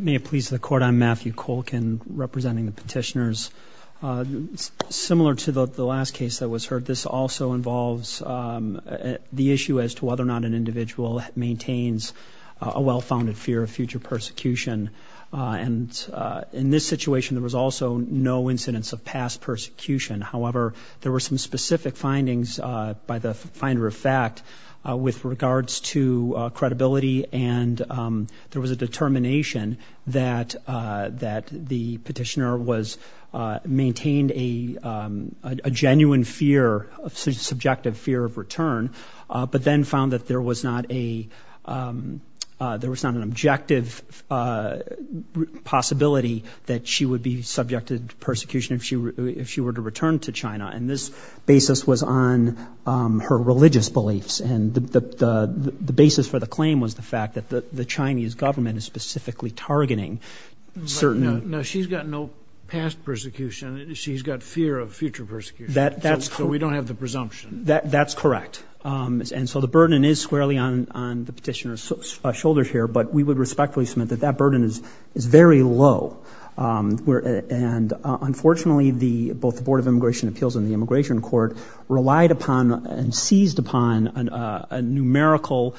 May it please the Court, I'm Matthew Kolkin, representing the petitioners. Similar to the last case that was heard, this also involves the issue as to whether or not an individual maintains a well-founded fear of future persecution, and in this situation there was also no incidence of past persecution. However, there were some specific findings by the finder of fact with regards to credibility and there was a determination that the petitioner maintained a genuine fear, a subjective fear of return, but then found that there was not an objective possibility that she would be subjected to persecution if she were to return to China, and this basis was on her religious fact that the Chinese government is specifically targeting certain... No, she's got no past persecution, she's got fear of future persecution, so we don't have the presumption. That's correct, and so the burden is squarely on the petitioner's shoulders here, but we would respectfully submit that that burden is very low, and unfortunately both the Board of Immigration Appeals and the Immigration Court relied upon and seized upon a numerical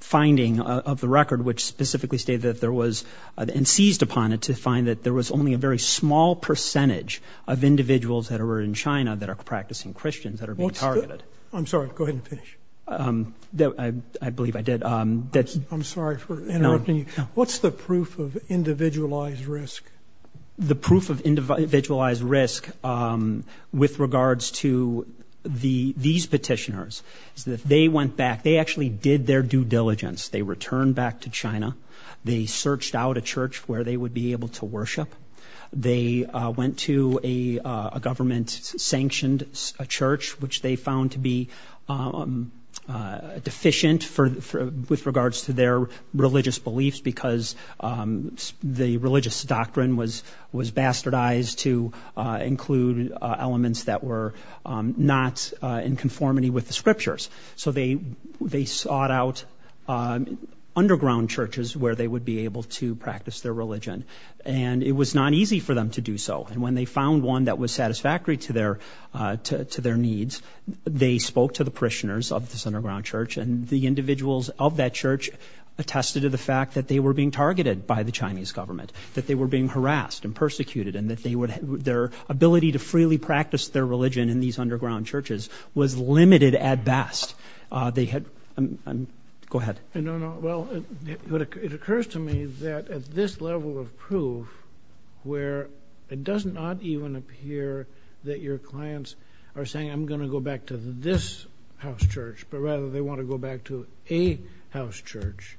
finding of the record, which specifically stated that there was, and seized upon it to find that there was only a very small percentage of individuals that are in China that are practicing Christians that are being targeted. I'm sorry, go ahead and finish. I believe I did. I'm sorry for interrupting you. What's the proof of individualized risk? The proof of individualized risk with regards to these petitioners is that they went back, they actually did their due diligence. They returned back to China, they searched out a church where they would be able to worship, they went to a government-sanctioned church, which they found to be deficient with regards to their religious beliefs because the religious doctrine was bastardized to include elements that were not in conformity with the scriptures. So they sought out underground churches where they would be able to practice their religion, and it was not easy for them to do so, and when they found one that was satisfactory to their needs, they spoke to the parishioners of this underground church, and the individuals of that church attested to the fact that they were being targeted by the Chinese government, that they were being harassed and persecuted, and that their ability to freely practice their religion in these underground churches was limited at best. Go ahead. No, no. Well, it occurs to me that at this level of proof, where it does not even appear that your clients are saying, I'm going to go back to this house church, but rather they want to go back to a house church,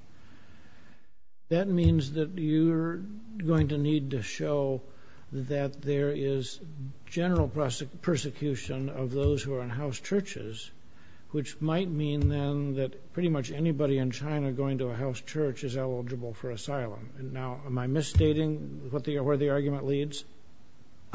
that means that you're going to need to show that there is general persecution of those who are in house churches, which might mean then that pretty much anybody in China going to a house church is eligible for asylum. Now, am I misstating where the argument leads?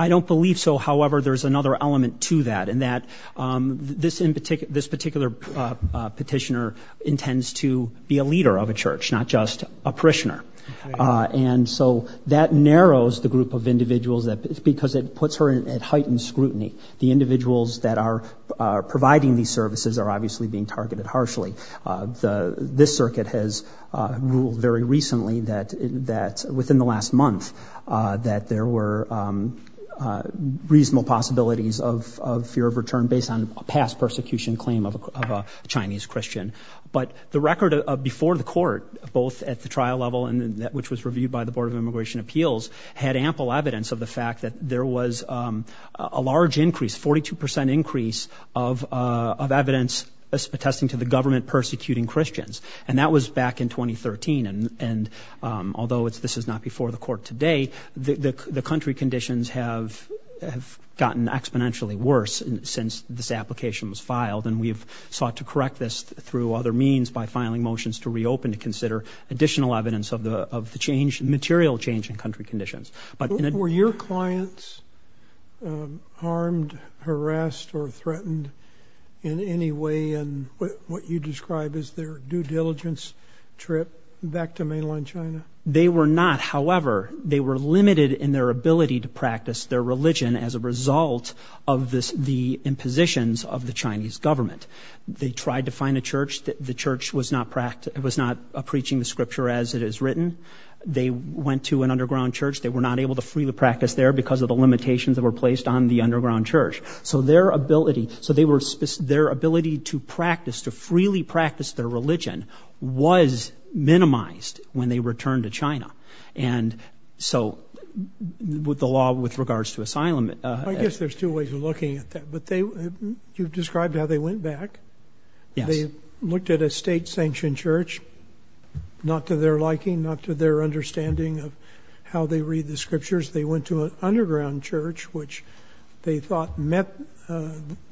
I don't believe so. However, there's another element to that, in that this particular petitioner intends to be a leader of a church, not just a parishioner. And so that narrows the group of individuals, because it puts her at heightened scrutiny. The individuals that are providing these services are obviously being targeted harshly. This circuit has ruled very recently that, within the last month, that there were reasonable possibilities of fear of return based on a past persecution claim of a Chinese Christian. But the record before the court, both at the trial level and which was reviewed by the Board of Immigration Appeals, had ample evidence of the fact that there was a large increase, 42% increase, of evidence attesting to the government persecuting Christians. And that was back in 2013. And although this is not before the court today, the country conditions have gotten exponentially worse since this application was filed. And we have sought to correct this through other means, by filing motions to reopen to consider additional evidence of the change, material change in country conditions. Were your clients harmed, harassed, or threatened in any way in what you describe as their due diligence trip back to mainland China? They were not, however. They were limited in their ability to practice their religion as a result of the impositions of the Chinese government. They tried to find a church. The church was not preaching the scripture as it is written. They went to an underground church. They were not able to freely practice there because of the limitations that were placed on the underground church. So their ability to practice, to freely practice their religion, was minimized when they returned to China. And so, with the law with regards to asylum- I guess there's two ways of looking at that. But they, you've described how they went back. Yes. They looked at a state-sanctioned church. Not to their liking, not to their understanding of how they read the scriptures. They went to an underground church, which they thought met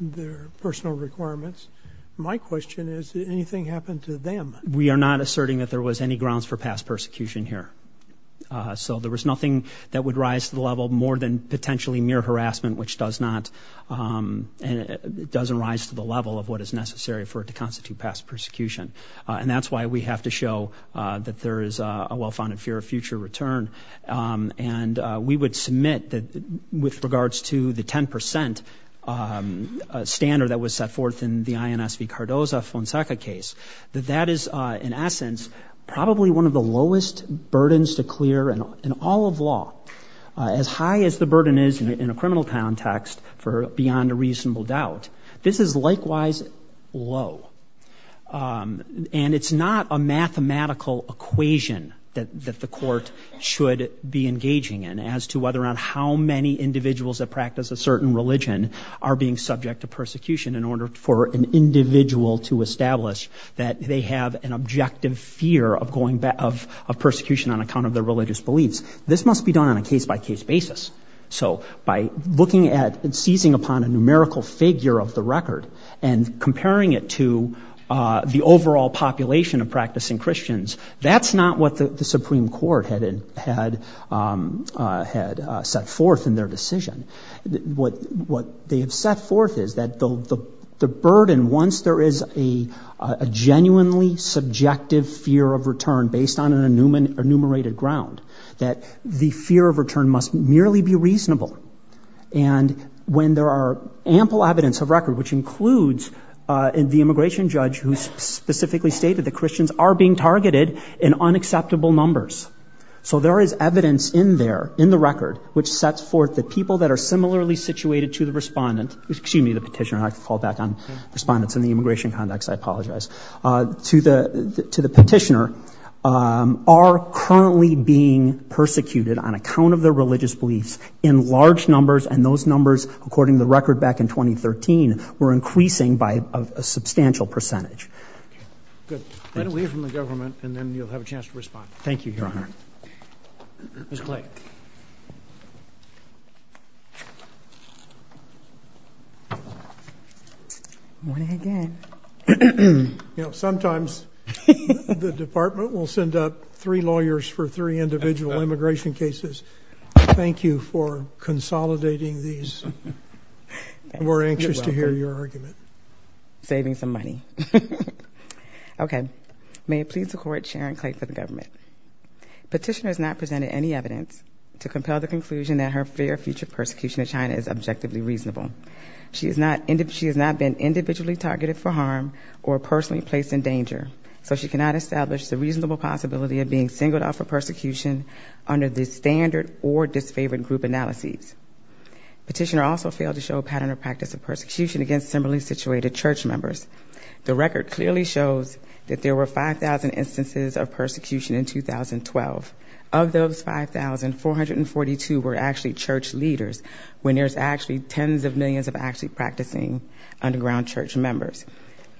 their personal requirements. My question is, did anything happen to them? We are not asserting that there was any grounds for past persecution here. So there was nothing that would rise to the level more than potentially mere harassment, which does not- doesn't rise to the level of what is necessary for it to constitute past persecution. And that's why we have to show that there is a well-founded fear of future return. And we would submit that, with regards to the 10 percent standard that was set forth in the INSV Cardoza-Fonseca case, that that is, in essence, probably one of the lowest burdens to clear in all of law. As high as the burden is in a criminal context for beyond a reasonable doubt, this is likewise low. And it's not a mathematical equation that the court should be engaging in as to whether or not how many individuals that practice a certain religion are being subject to persecution in order for an individual to establish that they have an objective fear of going back- of persecution on account of their religious beliefs. This must be done on a case-by-case basis. So by looking at and seizing upon a numerical figure of the record and comparing it to the overall population of practicing Christians, that's not what the Supreme Court had set forth in their decision. What they have set forth is that the burden, once there is a genuinely subjective fear of return based on an enumerated ground, that the fear of return must merely be reasonable. And when there are ample evidence of record, which includes the immigration judge who specifically stated that Christians are being targeted in unacceptable numbers. So there is evidence in there, in the record, which sets forth that people that are similarly situated to the respondent- excuse me, the petitioner, I have to call back on respondents in the immigration context, I apologize- to the petitioner are currently being persecuted on account of their religious beliefs in large numbers, and those numbers, according to the record back in 2013, were increasing by a substantial percentage. Good. Get away from the government and then you'll have a chance to respond. Thank you, Your Honor. Ms. Clay. Morning again. You know, sometimes the department will send up three lawyers for three individual immigration cases. Thank you for consolidating these. We're anxious to hear your argument. Saving some money. Okay. May it please the Court, Sharon Clay for the government. Petitioner has not presented any evidence to compel the conclusion that her fear of future persecution of China is objectively reasonable. She has not been individually targeted for harm or personally placed in danger, so she cannot establish the reasonable possibility of being singled out for persecution under the standard or disfavored group analyses. Petitioner also failed to show a pattern or practice of persecution against similarly situated church members. The record clearly shows that there were 5,000 instances of persecution in 2012. Of those 5,000, 442 were actually church leaders, when there's actually tens of millions of actually practicing underground church members.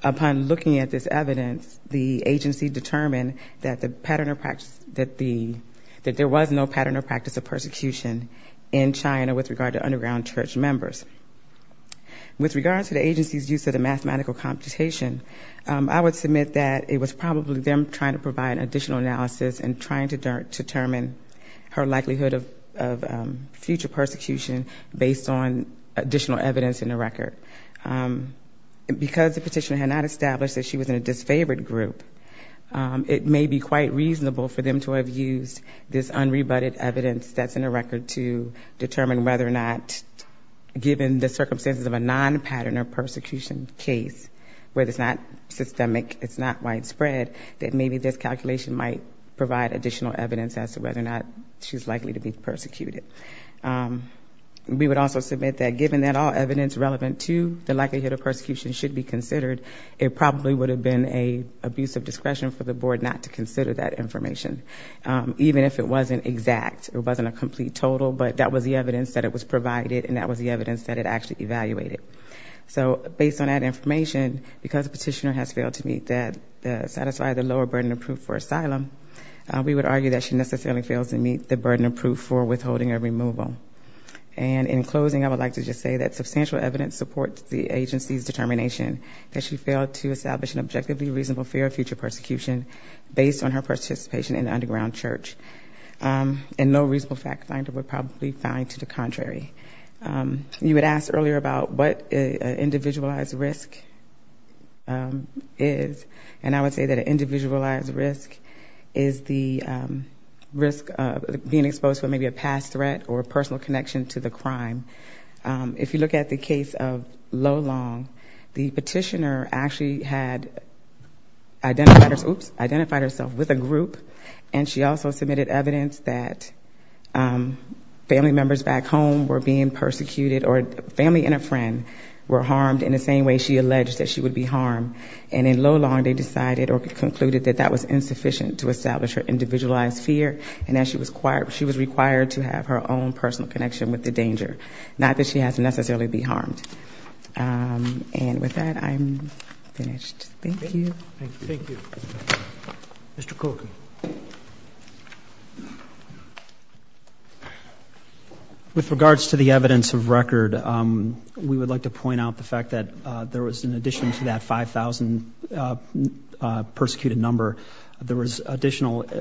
Upon looking at this evidence, the agency determined that the pattern or practice, that the, that there was no pattern or practice of persecution in China with regard to underground church members. With regard to the agency's use of the mathematical computation, I would submit that it was probably them trying to provide additional analysis and trying to determine her likelihood of future persecution based on additional evidence in the record. Because the petitioner had not established that she was in a disfavored group, it may be quite reasonable for them to have used this unrebutted evidence that's in the record to determine whether or not, given the circumstances of a non-pattern or persecution case, where it's not systemic, it's not widespread, that maybe this calculation might provide additional evidence as to whether or not she's likely to be persecuted. We would also submit that given that all evidence relevant to the likelihood of persecution should be considered, it probably would have been an abuse of discretion for the board not to consider that information, even if it wasn't exact, it wasn't a complete total, but that was the evidence that it was provided and that was the evidence that it actually evaluated. So, based on that information, because the petitioner has failed to meet that, satisfy the lower burden of proof for asylum, we would argue that she necessarily fails to meet the burden of proof for withholding or removal. And in closing, I would like to just say that substantial evidence supports the agency's determination that she failed to establish an objectively reasonable fear of future persecution based on her participation in the underground church. And no reasonable fact finder would probably find to the contrary. You had asked earlier about what an individualized risk is, and I would say that an individualized risk is the risk of being exposed to maybe a past threat or a personal connection to the crime. If you look at the case of Lolong, the petitioner actually had identified herself with a group and she also submitted evidence that family members back home were being persecuted or family and a friend were harmed in the same way she alleged that she would be harmed. And in Lolong they decided or concluded that that was insufficient to establish her individualized fear and that she was required to have her own personal connection with the danger, not that she has to necessarily be harmed. And with that, I'm finished. Thank you. Thank you. Mr. Cooke. With regards to the evidence of record, we would like to point out the fact that there was additional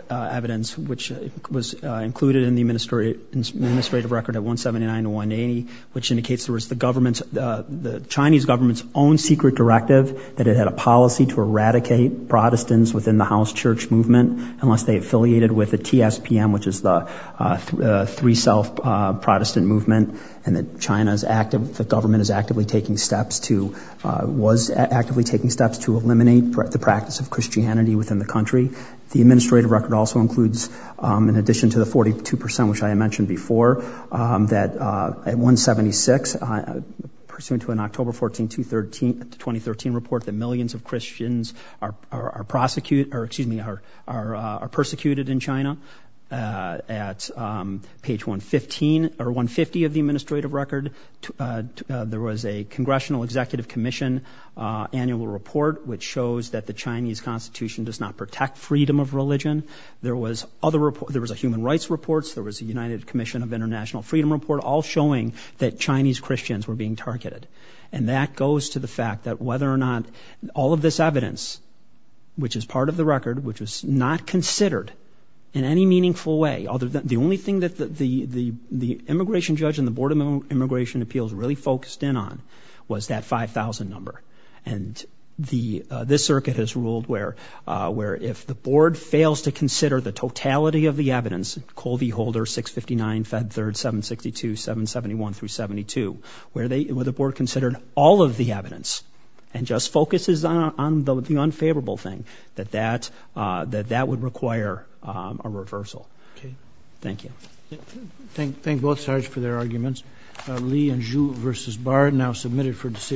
evidence which was included in the administrative record at 179 to 180, which indicates there was the government's, the Chinese government's own secret directive that it had a policy to eradicate Protestants within the house church movement unless they affiliated with the TSPM, which is the Three-Self Protestant Movement, and that China's active, the government is actively taking steps to, was actively taking steps to eliminate the practice of Christianity within the country. The administrative record also includes, in addition to the 42%, which I had mentioned before, that at 176, pursuant to an October 14, 2013 report, that millions of Christians are prosecuted, or excuse me, are persecuted in China. At page 115, or 150 of the administrative record, there was a Congressional Executive Commission annual report, which shows that the Chinese Constitution does not protect freedom of religion. There was other reports. There was a Human Rights report. There was a United Commission of International Freedom report, all showing that Chinese Christians were being targeted. And that goes to the fact that whether or not all of this evidence, which is part of the record, which was not considered in any meaningful way, the only thing that the immigration judge and the Board of Immigration Appeals really focused in on was that 5,000 number. And the, this circuit has ruled where, where if the board fails to consider the totality of the evidence, Colby Holder, 659, Fed Third, 762, 771 through 72, where they, where the board considered all of the evidence, and just focuses on the unfavorable thing, that that, that that would require a reversal. Okay. Thank you. Thank, thank both sides for their arguments. Lee and Zhu versus Barr now submitted for decision.